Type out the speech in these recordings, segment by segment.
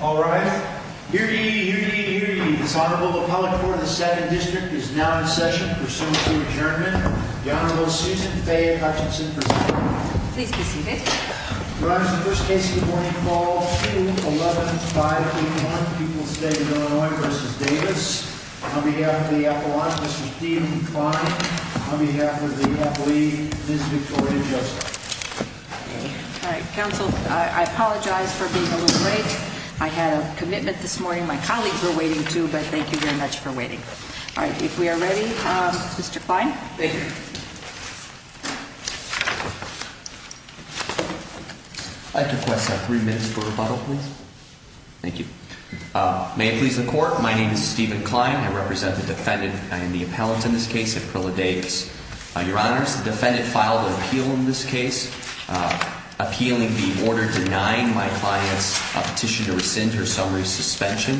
All rise. Hear ye, hear ye, hear ye. This Honorable Appellate Court of the 2nd District is now in session. Pursuant to adjournment, the Honorable Susan Faye Hutchinson presides. Please be seated. Your Honor, this is the first case of the morning. Call 2-11-5-8-1. Pupil State of Illinois v. Davis. On behalf of the Appellant, Mr. Stephen Klein. On behalf of the Appellee, Ms. Victoria Joseph. All right. Counsel, I apologize for being a little late. I had a commitment this morning my colleagues were waiting to, but thank you very much for waiting. All right. If we are ready, Mr. Klein. Thank you. I'd like to request three minutes for rebuttal, please. Thank you. May it please the Court, my name is Stephen Klein. I represent the Defendant and the Appellant in this case, Aprila Davis. Your Honor, the Defendant filed an appeal in this case appealing the order denying my client's petition to rescind her summary suspension.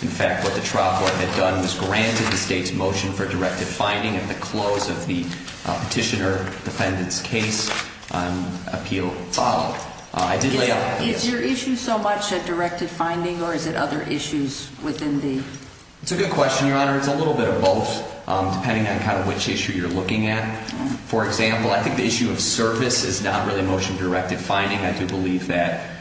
In fact, what the trial court had done was granted the State's motion for directed finding at the close of the Petitioner Defendant's case. Appeal followed. Is your issue so much a directed finding or is it other issues within the... It's a good question, Your Honor. It's a little bit of both, depending on kind of which issue you're looking at. For example, I think the issue of service is not really a motion directed finding. I do believe that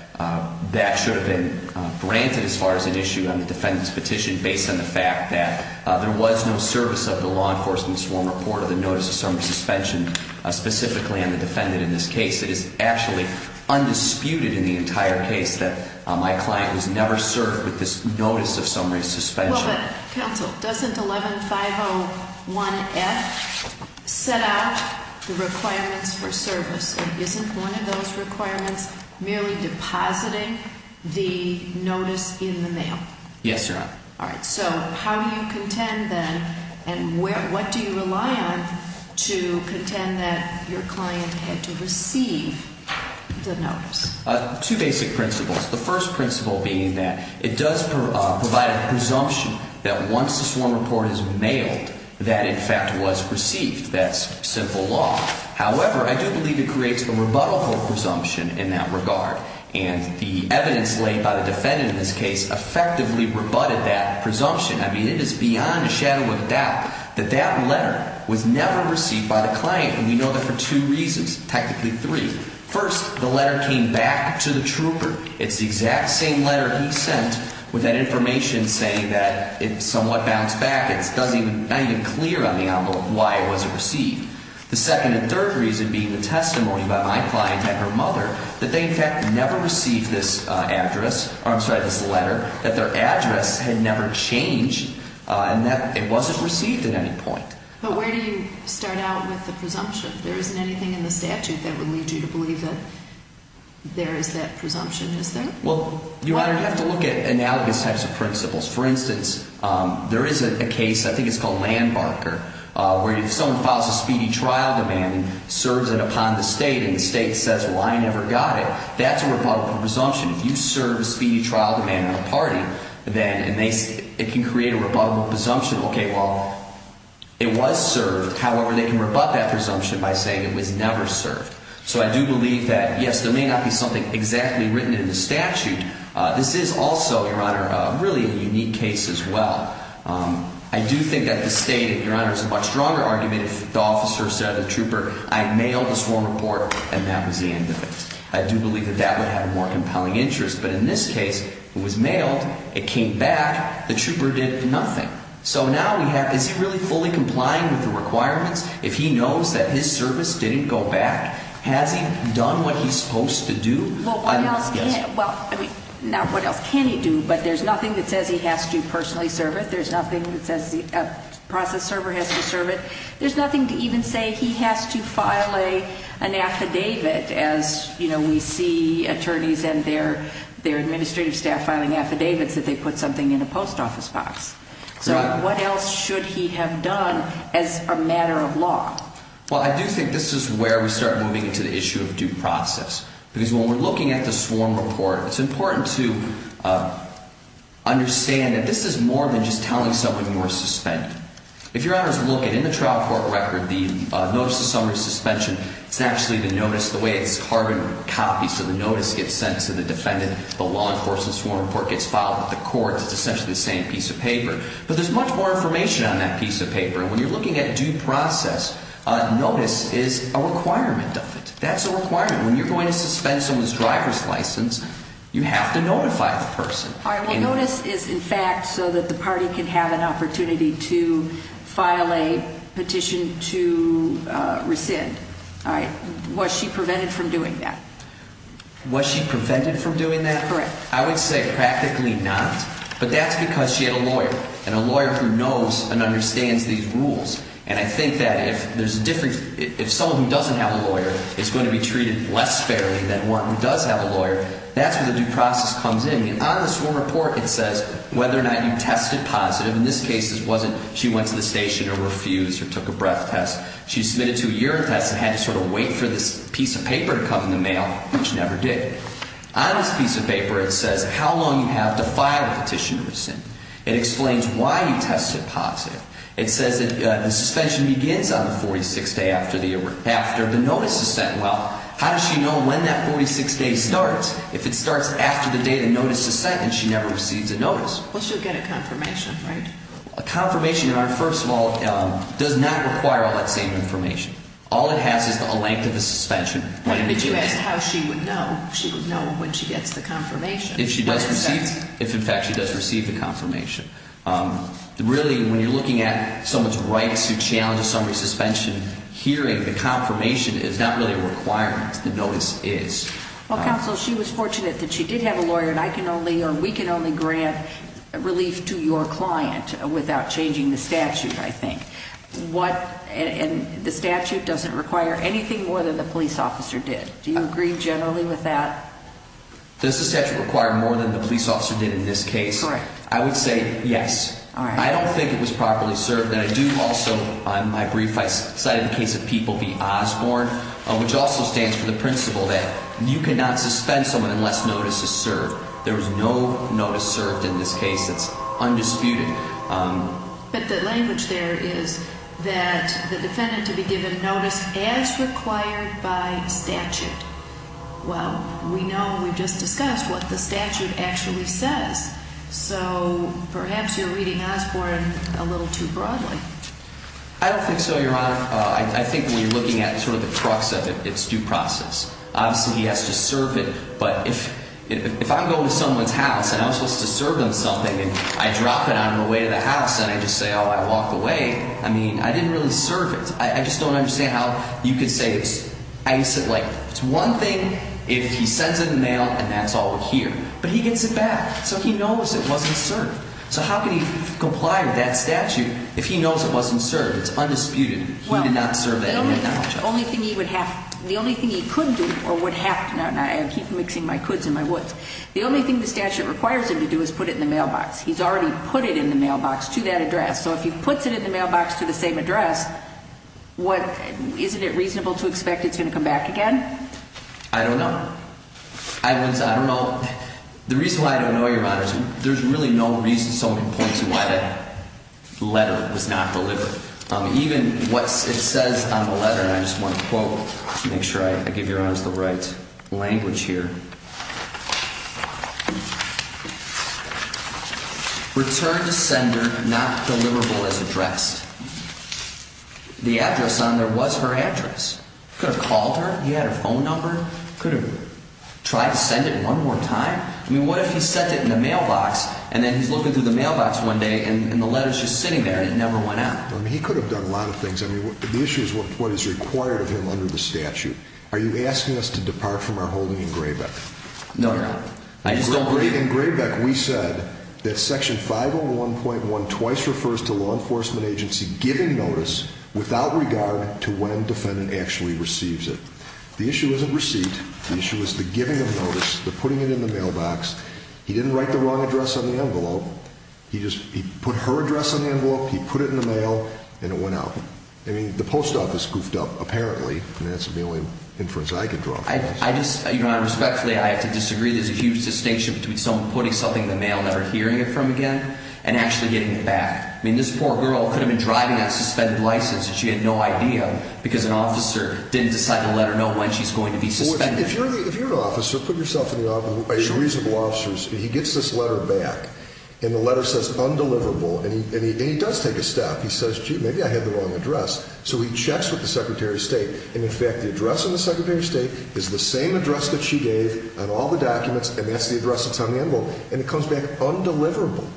that should have been granted as far as an issue on the Defendant's petition based on the fact that there was no service of the law enforcement sworn report or the notice of summary suspension specifically on the Defendant in this case. It is actually undisputed in the entire case that my client was never served with this notice of summary suspension. Counsel, doesn't 11501F set out the requirements for service? It isn't one of those requirements merely depositing the notice in the mail? Yes, Your Honor. All right. So how do you contend then and what do you rely on to contend that your client had to receive the notice? Two basic principles. The first principle being that it does provide a presumption that once the sworn report is mailed, that in fact was received. That's simple law. However, I do believe it creates a rebuttable presumption in that regard. And the evidence laid by the Defendant in this case effectively rebutted that presumption. I mean, it is beyond a shadow of a doubt that that letter was never received by the client. And we know that for two reasons, technically three. First, the letter came back to the trooper. It's the exact same letter he sent with that information saying that it somewhat bounced back. It's not even clear on the envelope why it wasn't received. The second and third reason being the testimony by my client and her mother that they, in fact, never received this address. I'm sorry, this letter, that their address had never changed and that it wasn't received at any point. But where do you start out with the presumption? If there isn't anything in the statute that would lead you to believe that there is that presumption, is there? Well, Your Honor, you have to look at analogous types of principles. For instance, there is a case, I think it's called Landbarker, where if someone files a speedy trial demand and serves it upon the state and the state says, well, I never got it, that's a rebuttable presumption. If you serve a speedy trial demand on a party, then it can create a rebuttable presumption. Okay, well, it was served. However, they can rebut that presumption by saying it was never served. So I do believe that, yes, there may not be something exactly written in the statute. This is also, Your Honor, really a unique case as well. I do think that the state, Your Honor, is a much stronger argument if the officer said to the trooper, I mailed this wrong report, and that was the end of it. I do believe that that would have a more compelling interest. But in this case, it was mailed, it came back, the trooper did nothing. So now we have, is he really fully complying with the requirements if he knows that his service didn't go back? Has he done what he's supposed to do? Well, what else can he do? But there's nothing that says he has to personally serve it. There's nothing that says the process server has to serve it. There's nothing to even say he has to file an affidavit as, you know, we see attorneys and their administrative staff filing affidavits that they put something in a post office box. So what else should he have done as a matter of law? Well, I do think this is where we start moving into the issue of due process. Because when we're looking at the sworn report, it's important to understand that this is more than just telling someone you were suspended. If your Honor is looking in the trial court record, the notice of summary suspension, it's actually the notice, the way it's carbon copied. So the notice gets sent to the defendant, the law enforcement sworn report gets filed with the courts. It's essentially the same piece of paper. But there's much more information on that piece of paper. And when you're looking at due process, notice is a requirement of it. That's a requirement. When you're going to suspend someone's driver's license, you have to notify the person. The notice is, in fact, so that the party can have an opportunity to file a petition to rescind. All right. Was she prevented from doing that? Was she prevented from doing that? Correct. I would say practically not. But that's because she had a lawyer, and a lawyer who knows and understands these rules. And I think that if there's a difference, if someone who doesn't have a lawyer is going to be treated less fairly than one who does have a lawyer, that's where the due process comes in. And on the sworn report, it says whether or not you tested positive. In this case, it wasn't she went to the station or refused or took a breath test. She submitted to a urine test and had to sort of wait for this piece of paper to come in the mail, which she never did. On this piece of paper, it says how long you have to file a petition to rescind. It explains why you tested positive. It says that the suspension begins on the 46th day after the notice is sent. Well, how does she know when that 46th day starts? If it starts after the day the notice is sent, then she never receives a notice. Well, she'll get a confirmation, right? A confirmation, first of all, does not require all that same information. All it has is a length of the suspension. If you asked how she would know, she would know when she gets the confirmation. If, in fact, she does receive the confirmation. Really, when you're looking at someone's rights who challenges summary suspension, hearing the confirmation is not really a requirement. The notice is. Well, counsel, she was fortunate that she did have a lawyer, and I can only or we can only grant relief to your client without changing the statute, I think. And the statute doesn't require anything more than the police officer did. Do you agree generally with that? Does the statute require more than the police officer did in this case? Correct. I would say yes. All right. I don't think it was properly served. And I do also, my brief, I cited the case of people v. Osborne, which also stands for the principle that you cannot suspend someone unless notice is served. There was no notice served in this case that's undisputed. But the language there is that the defendant to be given notice as required by statute. Well, we know, we just discussed what the statute actually says. So perhaps you're reading Osborne a little too broadly. I don't think so, Your Honor. I think when you're looking at sort of the crux of it, it's due process. Obviously, he has to serve it. But if I'm going to someone's house and I'm supposed to serve them something and I drop it on the way to the house and I just say, oh, I walked away, I mean, I didn't really serve it. I just don't understand how you could say it's one thing if he sends it in the mail and that's all we're here. But he gets it back. So he knows it wasn't served. So how can he comply with that statute if he knows it wasn't served? It's undisputed. He did not serve that. The only thing he could do or would have to do, and I keep mixing my coulds and my woulds, the only thing the statute requires him to do is put it in the mailbox. He's already put it in the mailbox to that address. So if he puts it in the mailbox to the same address, isn't it reasonable to expect it's going to come back again? I don't know. I don't know. The reason why I don't know, Your Honors, there's really no reason someone points to why that letter was not delivered. Even what it says on the letter, and I just want to quote to make sure I give Your Honors the right language here. Returned to sender, not deliverable as addressed. The address on there was her address. Could have called her. He had her phone number. Could have tried to send it one more time. I mean, what if he sent it in the mailbox and then he's looking through the mailbox one day and the letter's just sitting there and it never went out? I mean, he could have done a lot of things. I mean, the issue is what is required of him under the statute. Are you asking us to depart from our holding in Graybeck? No, Your Honor. In Graybeck, we said that Section 501.1 twice refers to law enforcement agency giving notice without regard to when defendant actually receives it. The issue isn't receipt. The issue is the giving of notice, the putting it in the mailbox. He didn't write the wrong address on the envelope. He just put her address on the envelope, he put it in the mail, and it went out. I mean, the post office goofed up, apparently, and that's the only inference I can draw from this. I just, Your Honor, respectfully, I have to disagree. There's a huge distinction between someone putting something in the mail, never hearing it from again, and actually getting it back. I mean, this poor girl could have been driving a suspended license and she had no idea because an officer didn't decide to let her know when she's going to be suspended. Well, if you're an officer, put yourself in the office of a reasonable officer's, he gets this letter back, and the letter says undeliverable, and he does take a step. He says, gee, maybe I had the wrong address. So he checks with the Secretary of State, and, in fact, the address on the Secretary of State is the same address that she gave on all the documents, and that's the address that's on the envelope, and it comes back undeliverable.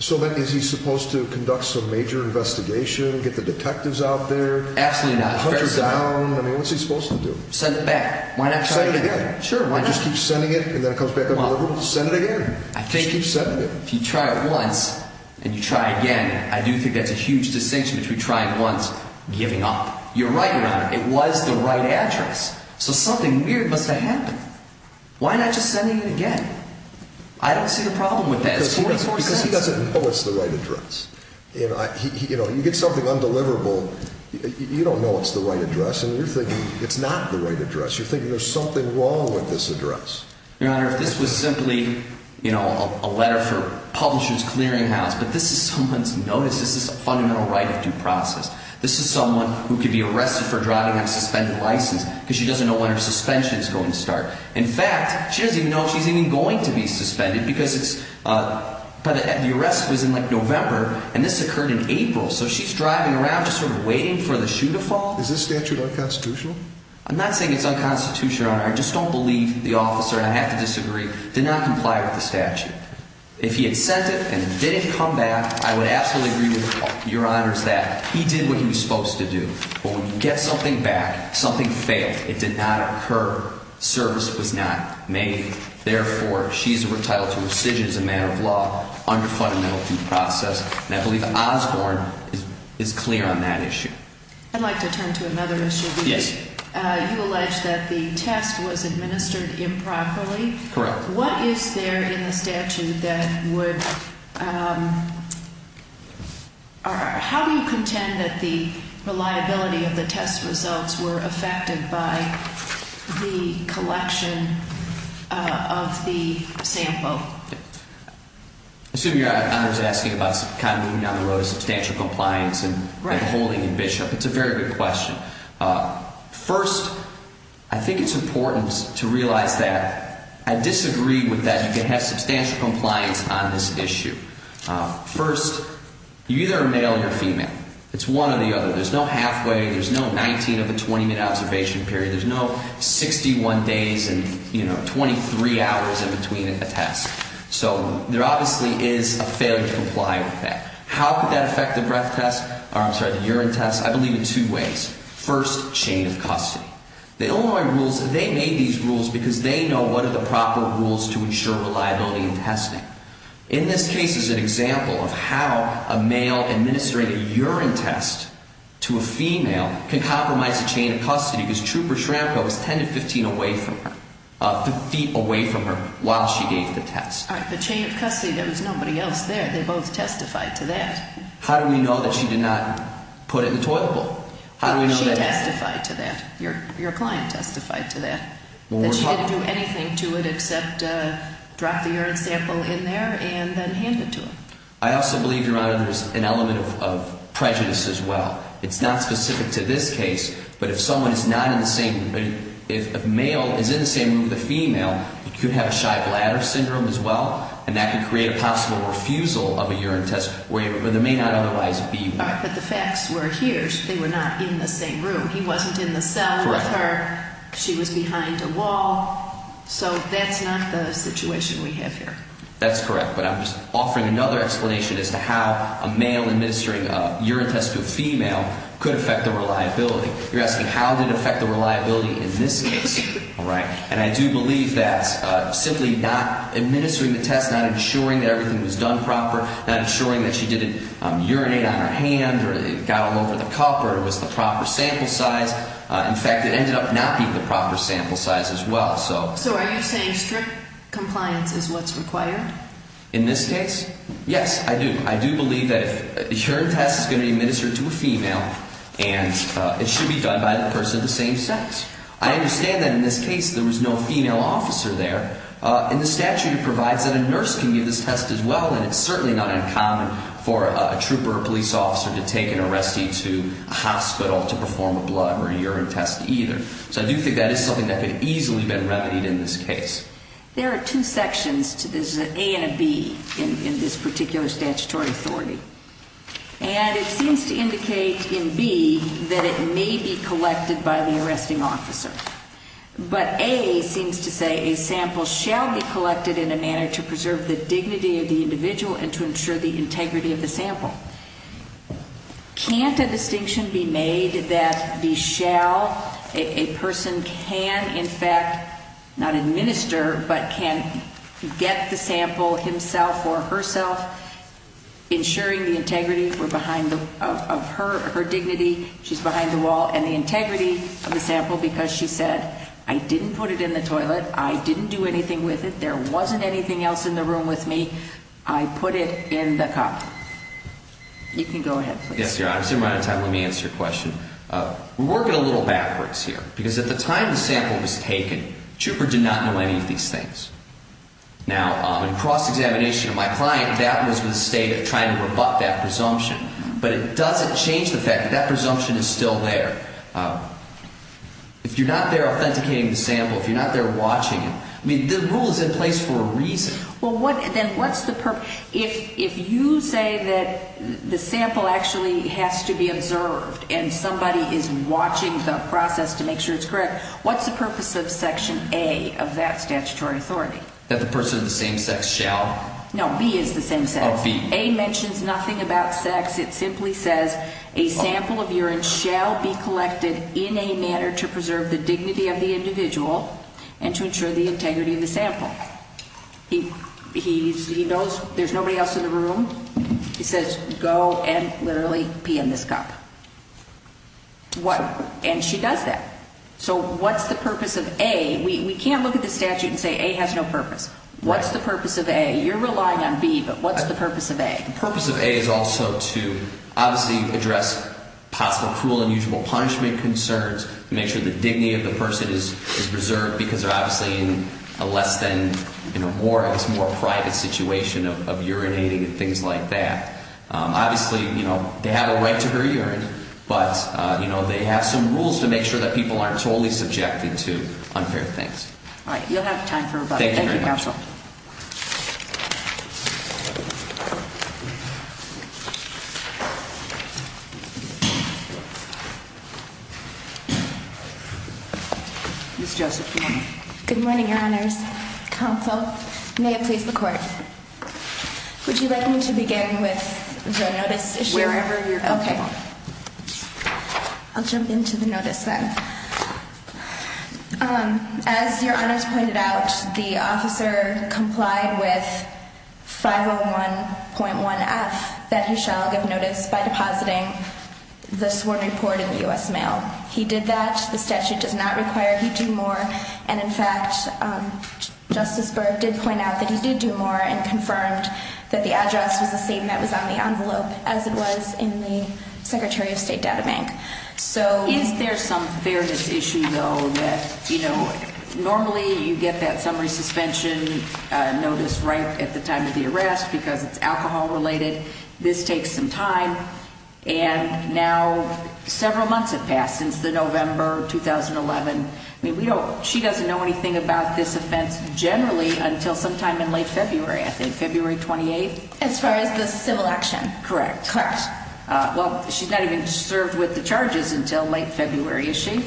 So, then, is he supposed to conduct some major investigation, get the detectives out there? Absolutely not. Hunt her down? I mean, what's he supposed to do? Send it back. Send it again. Sure. Why not just keep sending it, and then it comes back undeliverable? Send it again. Just keep sending it. If you try it once and you try again, I do think that's a huge distinction between trying once and giving up. You're right, Your Honor. It was the right address. So something weird must have happened. Why not just sending it again? I don't see the problem with that. Because he doesn't know it's the right address. You get something undeliverable, you don't know it's the right address, and you're thinking it's not the right address. You're thinking there's something wrong with this address. Your Honor, if this was simply a letter for Publishers Clearinghouse, but this is someone's notice. This is a fundamental right of due process. This is someone who could be arrested for driving on suspended license because she doesn't know when her suspension is going to start. In fact, she doesn't even know if she's even going to be suspended because the arrest was in, like, November, and this occurred in April. So she's driving around just sort of waiting for the shoe to fall? Is this statute unconstitutional? I'm not saying it's unconstitutional, Your Honor. I just don't believe the officer, and I have to disagree, did not comply with the statute. If he had sent it and it didn't come back, I would absolutely agree with Your Honors that he did what he was supposed to do. But when you get something back, something failed. It did not occur. Service was not made. Therefore, she's entitled to restitution as a matter of law under fundamental due process, and I believe Osborne is clear on that issue. I'd like to turn to another issue. Yes. You allege that the test was administered improperly. Correct. What is there in the statute that would – how do you contend that the reliability of the test results were affected by the collection of the sample? I assume Your Honor is asking about kind of moving down the road of substantial compliance and holding in Bishop. It's a very good question. First, I think it's important to realize that I disagree with that you can have substantial compliance on this issue. First, you either are male or female. It's one or the other. There's no halfway. There's no 19 of a 20-minute observation period. There's no 61 days and, you know, 23 hours in between a test. So there obviously is a failure to comply with that. How could that affect the breath test – I'm sorry, the urine test? I believe in two ways. First, chain of custody. The Illinois rules, they made these rules because they know what are the proper rules to ensure reliability in testing. In this case is an example of how a male administrating a urine test to a female can compromise a chain of custody because Trooper Schramko was 10 to 15 away from her, three feet away from her while she gave the test. All right. The chain of custody, there was nobody else there. They both testified to that. How do we know that she did not put it in the toilet bowl? She testified to that. Your client testified to that, that she didn't do anything to it except drop the urine sample in there and then hand it to him. I also believe, Your Honor, there's an element of prejudice as well. It's not specific to this case, but if someone is not in the same – if a male is in the same room with a female, you could have a shy bladder syndrome as well, and that could create a possible refusal of a urine test where there may not otherwise be one. But the facts were here. They were not in the same room. He wasn't in the cell with her. Correct. She was behind a wall. So that's not the situation we have here. That's correct. But I'm just offering another explanation as to how a male administering a urine test to a female could affect the reliability. You're asking how did it affect the reliability in this case. All right. And I do believe that simply not administering the test, not ensuring that everything was done proper, not ensuring that she didn't urinate on her hand or it got all over the cup or it was the proper sample size. In fact, it ended up not being the proper sample size as well. So are you saying strict compliance is what's required? In this case, yes, I do. I do believe that a urine test is going to be administered to a female, and it should be done by a person of the same sex. I understand that in this case there was no female officer there. In the statute, it provides that a nurse can give this test as well, and it's certainly not uncommon for a trooper or police officer to take an arrestee to a hospital to perform a blood or urine test either. So I do think that is something that could easily have been remedied in this case. There are two sections. There's an A and a B in this particular statutory authority. And it seems to indicate in B that it may be collected by the arresting officer. But A seems to say a sample shall be collected in a manner to preserve the dignity of the individual and to ensure the integrity of the sample. Can't a distinction be made that a person can, in fact, not administer, but can get the sample himself or herself, ensuring the integrity of her dignity, she's behind the wall, and the integrity of the sample because she said, I didn't put it in the toilet, I didn't do anything with it, there wasn't anything else in the room with me, I put it in the cup. You can go ahead, please. Yes, Your Honor. I'm assuming we're out of time. Let me answer your question. We're working a little backwards here because at the time the sample was taken, the trooper did not know any of these things. Now, in cross-examination of my client, that was the state of trying to rebut that presumption. But it doesn't change the fact that that presumption is still there. If you're not there authenticating the sample, if you're not there watching it, I mean, the rule is in place for a reason. Well, then what's the purpose? If you say that the sample actually has to be observed and somebody is watching the process to make sure it's correct, what's the purpose of Section A of that statutory authority? That the person of the same sex shall? No, B is the same sex. Oh, B. A mentions nothing about sex. It simply says a sample of urine shall be collected in a manner to preserve the dignity of the individual and to ensure the integrity of the sample. He knows there's nobody else in the room. He says go and literally pee in this cup. And she does that. So what's the purpose of A? We can't look at the statute and say A has no purpose. What's the purpose of A? You're relying on B, but what's the purpose of A? The purpose of A is also to obviously address possible cruel, unusual punishment concerns and make sure the dignity of the person is preserved because they're obviously in a less than, more private situation of urinating and things like that. Obviously, they have a right to their urine, but they have some rules to make sure that people aren't totally subjected to unfair things. All right. You'll have time for rebuttal. Thank you very much. Thank you, Counsel. Ms. Joseph. Good morning, Your Honors. Counsel, may it please the Court, would you like me to begin with the notice issue? Wherever you're comfortable. Okay. I'll jump into the notice then. As Your Honors pointed out, the officer complied with 501.1F that he shall give notice by depositing the sworn report in the U.S. mail. He did that. The statute does not require he do more, and in fact, Justice Berg did point out that he did do more and confirmed that the address was the same that was on the envelope as it was in the Secretary of State databank. Is there some fairness issue, though, that, you know, normally you get that summary suspension notice right at the time of the arrest because it's alcohol related. This takes some time, and now several months have passed since the November 2011. I mean, she doesn't know anything about this offense generally until sometime in late February, I think. February 28th? As far as the civil action. Correct. Correct. Well, she's not even served with the charges until late February, is she?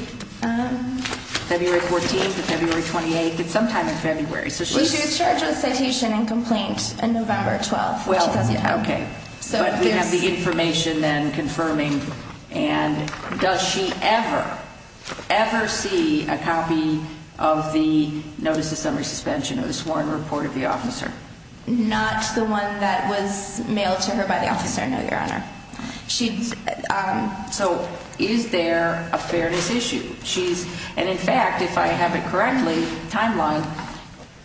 February 14th or February 28th. It's sometime in February. Well, she was charged with citation and complaint in November 12th, 2011. Okay. But we have the information then confirming. And does she ever, ever see a copy of the notice of summary suspension of the sworn report of the officer? Not the one that was mailed to her by the officer, no, Your Honor. So is there a fairness issue? And, in fact, if I have it correctly, timeline,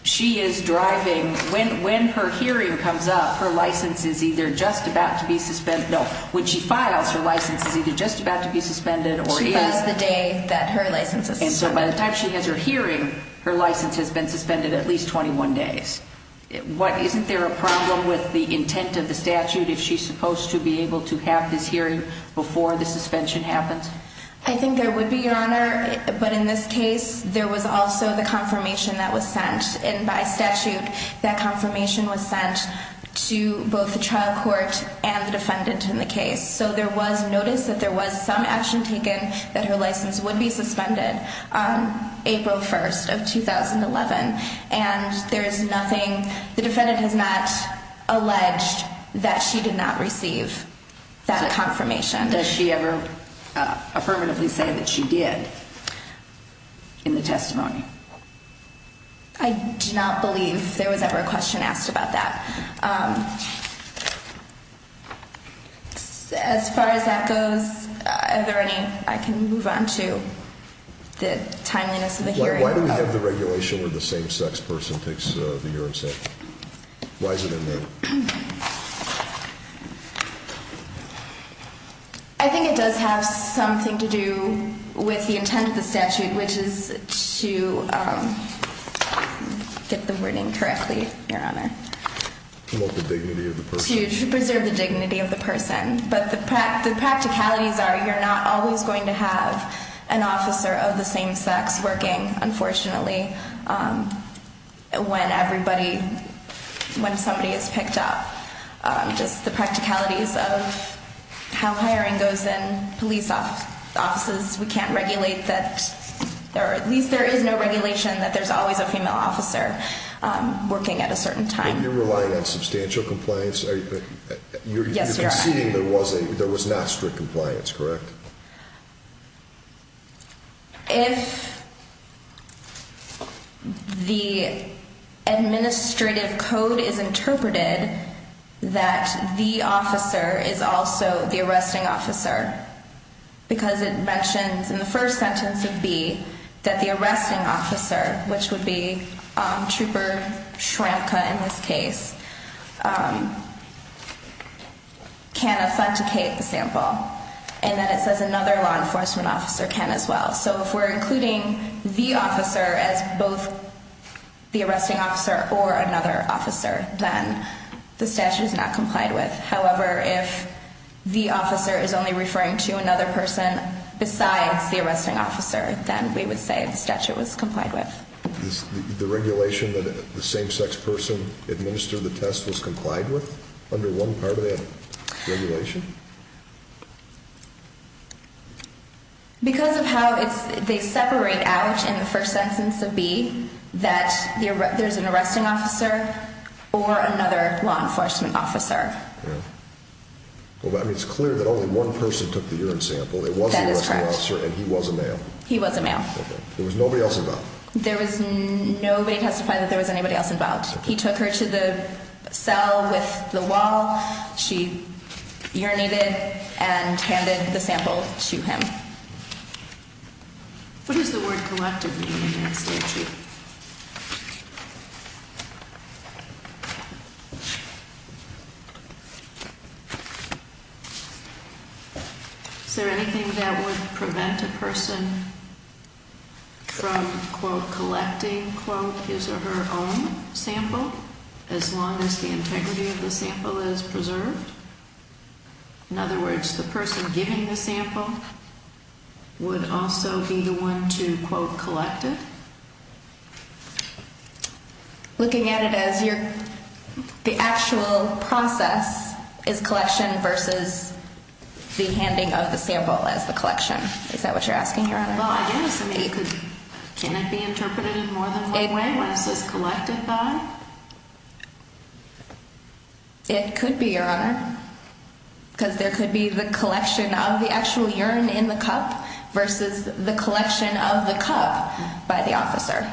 she is driving. When her hearing comes up, her license is either just about to be suspended. No, when she files, her license is either just about to be suspended or is. She files the day that her license is suspended. And so by the time she has her hearing, her license has been suspended at least 21 days. Isn't there a problem with the intent of the statute if she's supposed to be able to have this hearing before the suspension happens? I think there would be, Your Honor. But in this case, there was also the confirmation that was sent. And by statute, that confirmation was sent to both the trial court and the defendant in the case. So there was notice that there was some action taken that her license would be suspended on April 1st of 2011. And there is nothing. The defendant has not alleged that she did not receive that confirmation. Does she ever affirmatively say that she did in the testimony? I do not believe there was ever a question asked about that. As far as that goes, if there are any, I can move on to the timeliness of the hearing. Why do we have the regulation where the same-sex person takes the urine sample? Why is it in there? I think it does have something to do with the intent of the statute, which is to get the wording correctly, Your Honor. To promote the dignity of the person. To preserve the dignity of the person. But the practicalities are you're not always going to have an officer of the same sex working, unfortunately, when somebody is picked up. Just the practicalities of how hiring goes in police offices. We can't regulate that. At least there is no regulation that there's always a female officer working at a certain time. But you're relying on substantial compliance. Yes, Your Honor. You're conceding there was not strict compliance, correct? If the administrative code is interpreted that the officer is also the arresting officer, because it mentions in the first sentence of B that the arresting officer, which would be Trooper Schramka in this case, can authenticate the sample. And then it says another law enforcement officer can as well. So if we're including the officer as both the arresting officer or another officer, then the statute is not complied with. However, if the officer is only referring to another person besides the arresting officer, then we would say the statute was complied with. The regulation that the same-sex person administered the test was complied with under one part of that regulation? Because of how they separate out in the first sentence of B that there's an arresting officer or another law enforcement officer. Yeah. Well, I mean, it's clear that only one person took the urine sample. That is correct. It was an arresting officer and he was a male. He was a male. Okay. There was nobody else involved? There was nobody testified that there was anybody else involved. He took her to the cell with the wall. She urinated and handed the sample to him. What does the word collective mean in that statute? Is there anything that would prevent a person? Collecting his or her own sample as long as the integrity of the sample is preserved. In other words, the person giving the sample would also be the one to quote collected. Looking at it as you're the actual process is collection versus the handing of the sample as the collection. Is that what you're asking? Can it be interpreted in more than one way when it says collected by? It could be, Your Honor. Because there could be the collection of the actual urine in the cup versus the collection of the cup by the officer.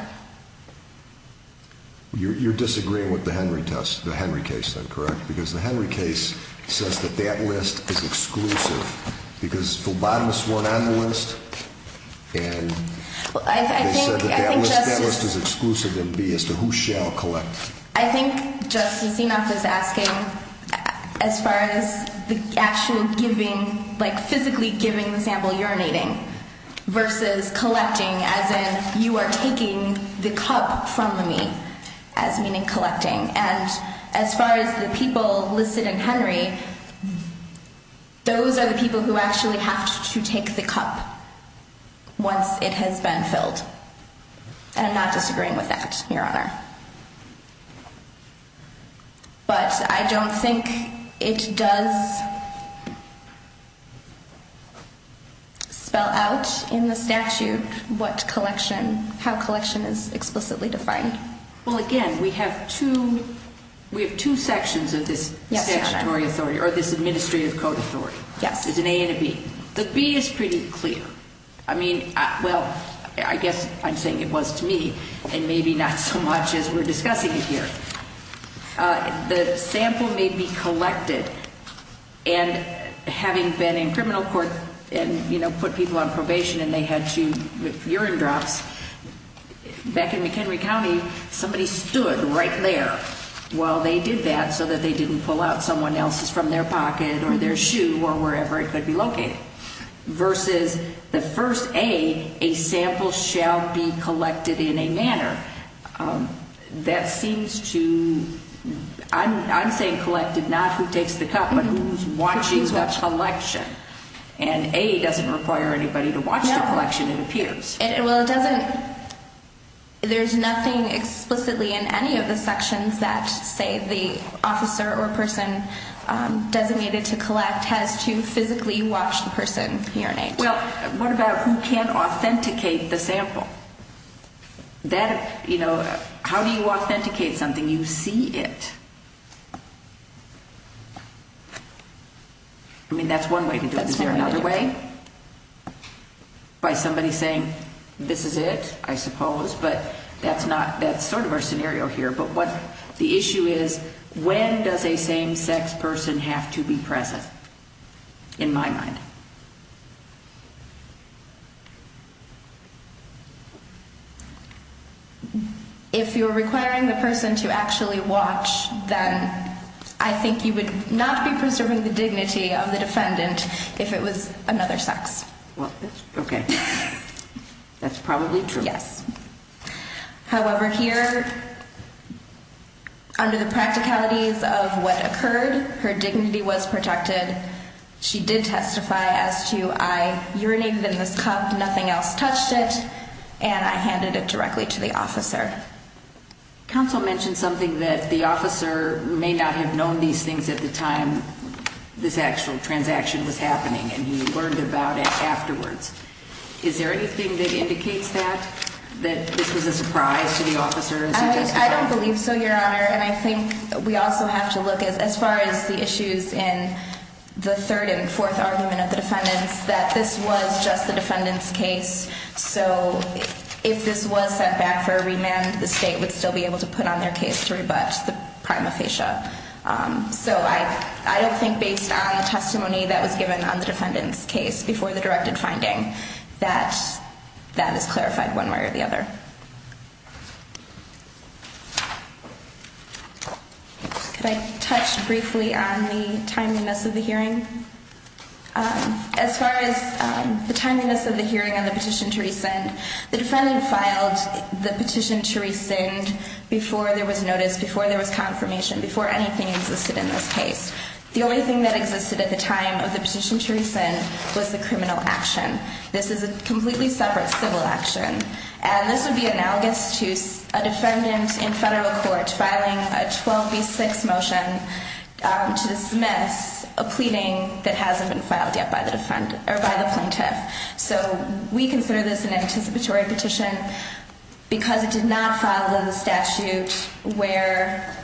You're disagreeing with the Henry test, the Henry case then, correct? Because the Henry case says that that list is exclusive. Because phlebotomists weren't on the list and they said that that list is exclusive and be as to who shall collect. I think Justice Enoff is asking as far as the actual giving, like physically giving the sample urinating versus collecting as in you are taking the cup from me as meaning collecting. And as far as the people listed in Henry, those are the people who actually have to take the cup once it has been filled. And I'm not disagreeing with that, Your Honor. But I don't think it does spell out in the statute what collection, how collection is explicitly defined. Well, again, we have two sections of this statutory authority or this administrative code authority. Yes. It's an A and a B. The B is pretty clear. I mean, well, I guess I'm saying it was to me and maybe not so much as we're discussing it here. The sample may be collected. And having been in criminal court and, you know, put people on probation and they had to, with urine drops, back in McHenry County, somebody stood right there while they did that so that they didn't pull out someone else's from their pocket or their shoe or wherever it could be located. Versus the first A, a sample shall be collected in a manner. That seems to, I'm saying collected, not who takes the cup, but who's watching the collection. And A doesn't require anybody to watch the collection, it appears. Well, it doesn't, there's nothing explicitly in any of the sections that say the officer or person designated to collect has to physically watch the person urinate. Well, what about who can authenticate the sample? That, you know, how do you authenticate something? You see it. I mean, that's one way to do it. Is there another way? By somebody saying, this is it, I suppose, but that's not, that's sort of our scenario here. But what the issue is, when does a same-sex person have to be present, in my mind? If you're requiring the person to actually watch, then I think you would not be preserving the dignity of the defendant if it was another sex. Well, okay. Yes. However, here, under the practicalities of what occurred, her dignity was protected. She did testify as to, I urinated in this cup, nothing else touched it, and I handed it directly to the officer. Counsel mentioned something that the officer may not have known these things at the time this actual transaction was happening, and he learned about it afterwards. Is there anything that indicates that, that this was a surprise to the officer as he testified? I don't believe so, Your Honor. And I think we also have to look, as far as the issues in the third and fourth argument of the defendants, that this was just the defendant's case. So if this was set back for a remand, the state would still be able to put on their case to rebut the prima facie. So I don't think, based on the testimony that was given on the defendant's case before the directed finding, that that is clarified one way or the other. Could I touch briefly on the timeliness of the hearing? As far as the timeliness of the hearing on the petition to rescind, the defendant filed the petition to rescind before there was notice, before there was confirmation, before anything existed in this case. The only thing that existed at the time of the petition to rescind was the criminal action. This is a completely separate civil action. And this would be analogous to a defendant in federal court filing a 12B6 motion to dismiss a pleading that hasn't been filed yet by the plaintiff. So we consider this an anticipatory petition because it did not follow the statute where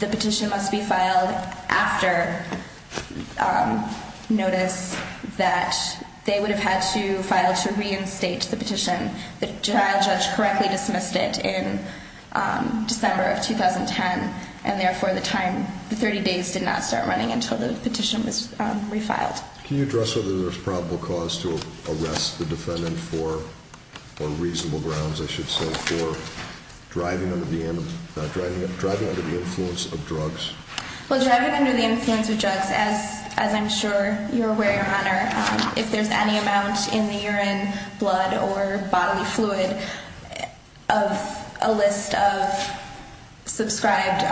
the petition must be filed after notice that they would have had to file to reinstate the petition. The trial judge correctly dismissed it in December of 2010, and therefore the 30 days did not start running until the petition was refiled. Can you address whether there's probable cause to arrest the defendant for, or reasonable grounds I should say, for driving under the influence of drugs? Well, driving under the influence of drugs, as I'm sure you're aware, Your Honor, if there's any amount in the urine, blood, or bodily fluid of a list of subscribed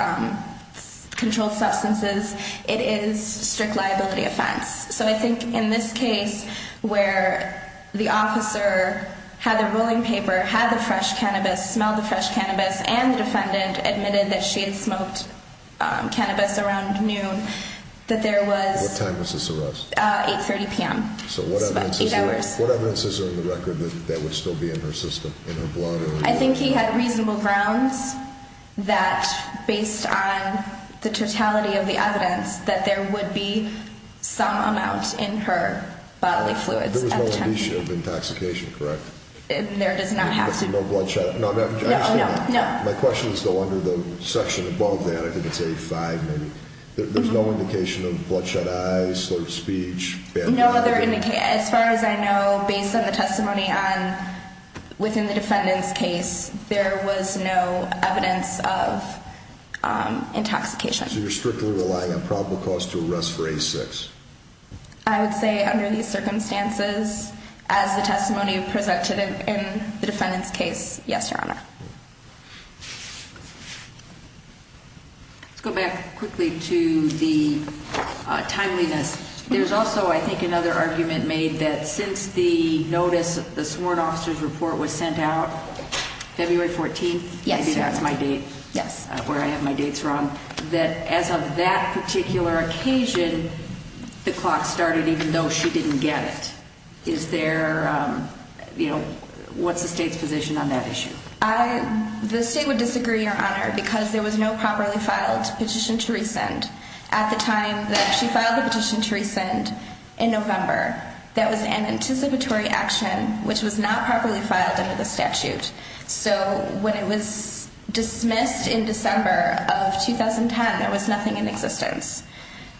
controlled substances, it is strict liability offense. So I think in this case where the officer had the ruling paper, had the fresh cannabis, smelled the fresh cannabis, and the defendant admitted that she had smoked cannabis around noon, that there was... What time was this arrest? 8.30 p.m. So what evidence is there in the record that that would still be in her system, in her blood? I think he had reasonable grounds that, based on the totality of the evidence, that there would be some amount in her bodily fluids at the time. There was no indicia of intoxication, correct? There does not have to be. No bloodshot... No, no, no. My question is though, under the section above that, I think it's 85 maybe, there's no indication of bloodshot eyes, slurred speech... As far as I know, based on the testimony within the defendant's case, there was no evidence of intoxication. So you're strictly relying on probable cause to arrest for A6? I would say under these circumstances, as the testimony presented in the defendant's case, yes, Your Honor. Let's go back quickly to the timeliness. There's also, I think, another argument made that since the notice, the sworn officer's report was sent out February 14th... Yes, Your Honor. ...maybe that's my date, where I have my dates wrong, that as of that particular occasion, the clock started even though she didn't get it. Is there, you know, what's the state's position on that issue? The state would disagree, Your Honor, because there was no properly filed petition to rescind. At the time that she filed the petition to rescind in November, that was an anticipatory action which was not properly filed under the statute. So when it was dismissed in December of 2010, there was nothing in existence.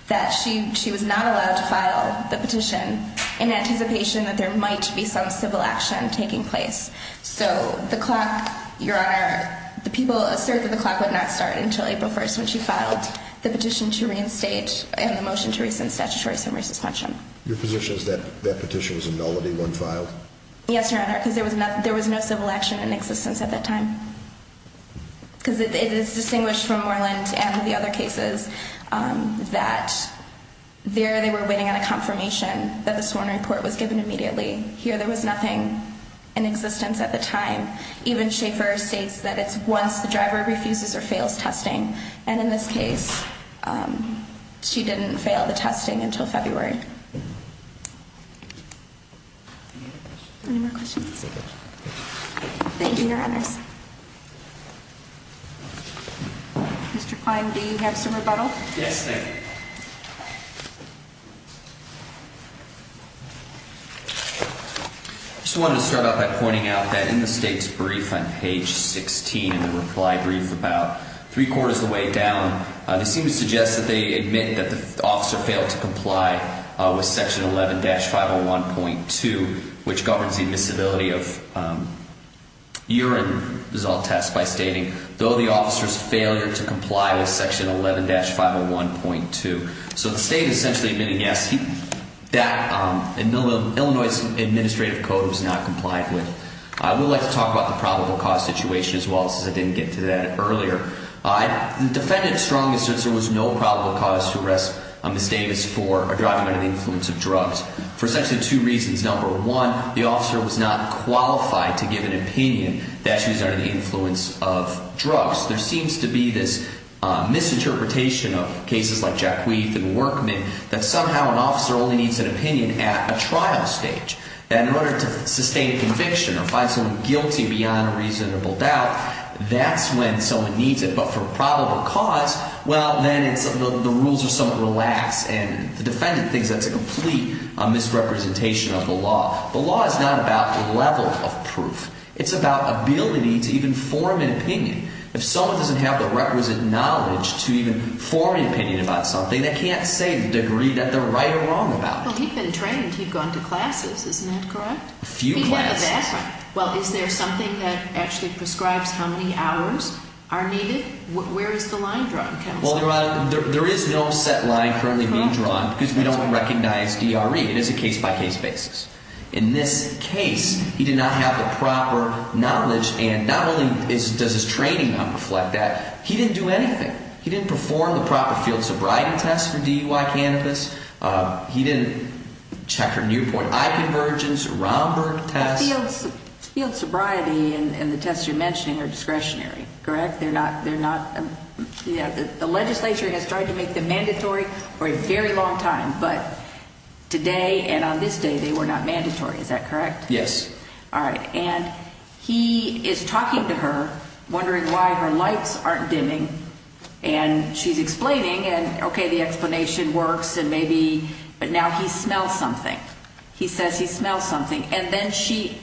That she was not allowed to file the petition in anticipation that there might be some civil action taking place. So the clock, Your Honor, the people assert that the clock would not start until April 1st when she filed the petition to reinstate and the motion to rescind statutory summary suspension. Your position is that that petition was a nullity when filed? Yes, Your Honor, because there was no civil action in existence at that time. Because it is distinguished from Moreland and the other cases that there they were waiting on a confirmation that the sworn report was given immediately. Here there was nothing in existence at the time. Even Schaefer states that it's once the driver refuses or fails testing. And in this case, she didn't fail the testing until February. Any more questions? Thank you, Your Honors. Mr. Klein, do you have some rebuttal? Yes, ma'am. Thank you. I just wanted to start out by pointing out that in the state's brief on page 16 in the reply brief about three-quarters of the way down, they seem to suggest that they admit that the officer failed to comply with section 11-501.2, which governs the admissibility of urine result tests by stating, though the officer's failure to comply with section 11-501.2. So the state is essentially admitting, yes, that Illinois' administrative code was not complied with. I would like to talk about the probable cause situation as well, since I didn't get to that earlier. The defendant strongly asserts there was no probable cause to arrest Ms. Davis for driving under the influence of drugs for essentially two reasons. Number one, the officer was not qualified to give an opinion that she was under the influence of drugs. There seems to be this misinterpretation of cases like Jack Wheath and Workman that somehow an officer only needs an opinion at a trial stage. And in order to sustain a conviction or find someone guilty beyond a reasonable doubt, that's when someone needs it. But for probable cause, well, then the rules are somewhat relaxed. And the defendant thinks that's a complete misrepresentation of the law. The law is not about the level of proof. It's about ability to even form an opinion. If someone doesn't have the requisite knowledge to even form an opinion about something, they can't say the degree that they're right or wrong about it. Well, he'd been trained. He'd gone to classes. Isn't that correct? A few classes. Well, is there something that actually prescribes how many hours are needed? Where is the line drawn? Well, Your Honor, there is no set line currently being drawn because we don't recognize DRE. It is a case-by-case basis. In this case, he did not have the proper knowledge, and not only does his training not reflect that, he didn't do anything. He didn't perform the proper field sobriety test for DUI cannabis. He didn't check her Newport eye convergence, Romberg test. The field sobriety and the tests you're mentioning are discretionary, correct? They're not. The legislature has tried to make them mandatory for a very long time, but today and on this day they were not mandatory. Is that correct? Yes. All right. And he is talking to her, wondering why her lights aren't dimming, and she's explaining. And, okay, the explanation works, and maybe, but now he smells something. He says he smells something. And then she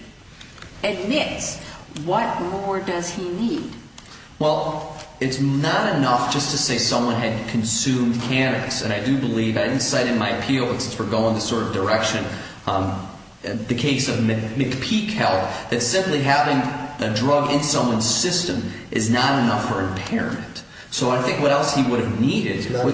admits, what more does he need? Well, it's not enough just to say someone had consumed cannabis. And I do believe, I didn't cite in my appeal, but since we're going in this sort of direction, the case of McPeak Health, that simply having a drug in someone's system is not enough for impairment. So I think what else he would have needed. Not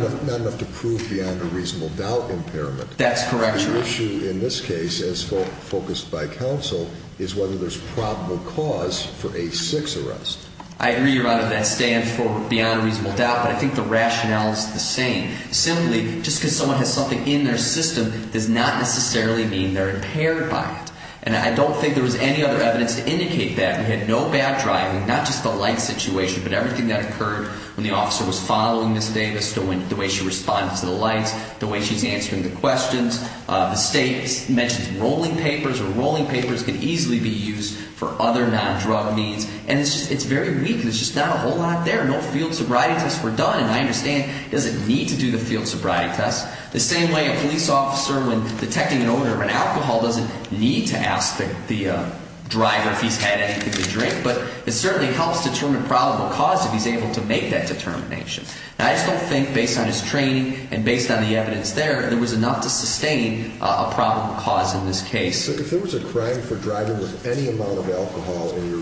enough to prove beyond a reasonable doubt impairment. That's correct, Your Honor. The issue in this case, as focused by counsel, is whether there's probable cause for a six arrest. I agree, Your Honor, that stands for beyond a reasonable doubt, but I think the rationale is the same. Simply just because someone has something in their system does not necessarily mean they're impaired by it. And I don't think there was any other evidence to indicate that. We had no backdriving, not just the light situation, but everything that occurred when the officer was following Ms. Davis, the way she responded to the lights, the way she's answering the questions. The state mentions rolling papers, and rolling papers can easily be used for other non-drug needs. And it's very weak. There's just not a whole lot there. No field sobriety tests were done, and I understand it doesn't need to do the field sobriety tests. The same way a police officer, when detecting an odor of an alcohol, doesn't need to ask the driver if he's had anything to drink. But it certainly helps determine probable cause if he's able to make that determination. And I just don't think, based on his training and based on the evidence there, there was enough to sustain a probable cause in this case. If there was a crime for driving with any amount of alcohol in your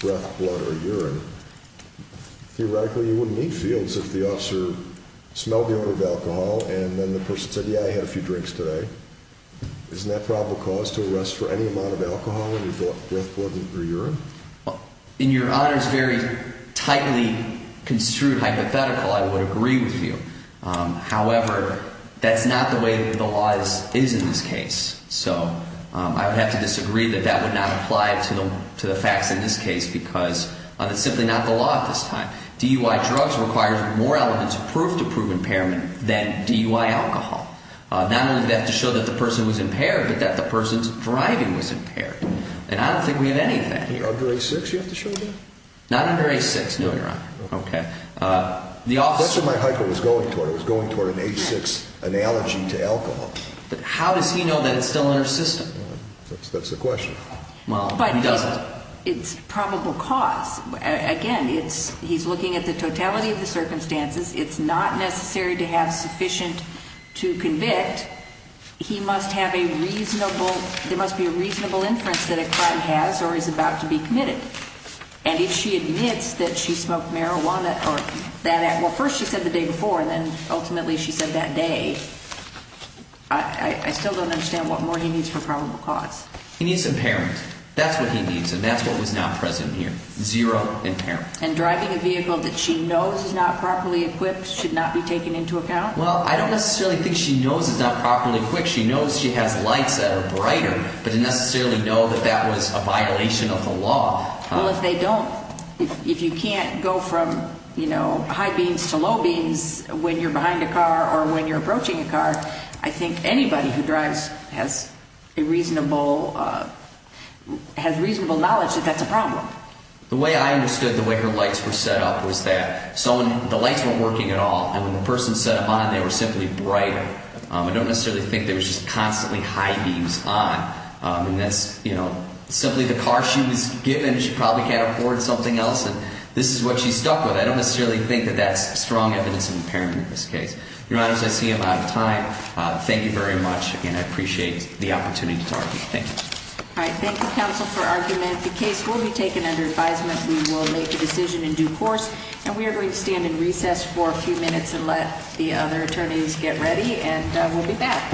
breath, blood, or urine, theoretically you wouldn't need fields if the officer smelled the odor of alcohol and then the person said, yeah, I had a few drinks today. Isn't that probable cause to arrest for any amount of alcohol in your breath, blood, or urine? In your Honor's very tightly construed hypothetical, I would agree with you. However, that's not the way the law is in this case. So I would have to disagree that that would not apply to the facts in this case because it's simply not the law at this time. DUI drugs require more elements of proof to prove impairment than DUI alcohol. Not only do they have to show that the person was impaired, but that the person's driving was impaired. And I don't think we have any of that here. Under 8.6 you have to show that? Not under 8.6, no, Your Honor. Okay. That's what my hypothetical was going toward. It was going toward an 8.6 analogy to alcohol. But how does he know that it's still in our system? That's the question. Well, he doesn't. But it's probable cause. Again, he's looking at the totality of the circumstances. It's not necessary to have sufficient to convict. He must have a reasonable – there must be a reasonable inference that a crime has or is about to be committed. And if she admits that she smoked marijuana or that – well, first she said the day before, and then ultimately she said that day. I still don't understand what more he needs for probable cause. He needs impairment. That's what he needs, and that's what was not present here. Zero impairment. And driving a vehicle that she knows is not properly equipped should not be taken into account? Well, I don't necessarily think she knows it's not properly equipped. She knows she has lights that are brighter, but didn't necessarily know that that was a violation of the law. Well, if they don't – if you can't go from, you know, high beams to low beams when you're behind a car or when you're approaching a car, I think anybody who drives has a reasonable – has reasonable knowledge that that's a problem. The way I understood the way her lights were set up was that the lights weren't working at all. And when the person set them on, they were simply brighter. I don't necessarily think they were just constantly high beams on. And that's, you know, simply the car she was given. She probably can't afford something else, and this is what she's stuck with. I don't necessarily think that that's strong evidence of impairment in this case. Your Honors, I see I'm out of time. Thank you very much. Again, I appreciate the opportunity to talk. Thank you. All right. Thank you, counsel, for argument. The case will be taken under advisement. We will make a decision in due course. And we are going to stand in recess for a few minutes and let the other attorneys get ready. And we'll be back.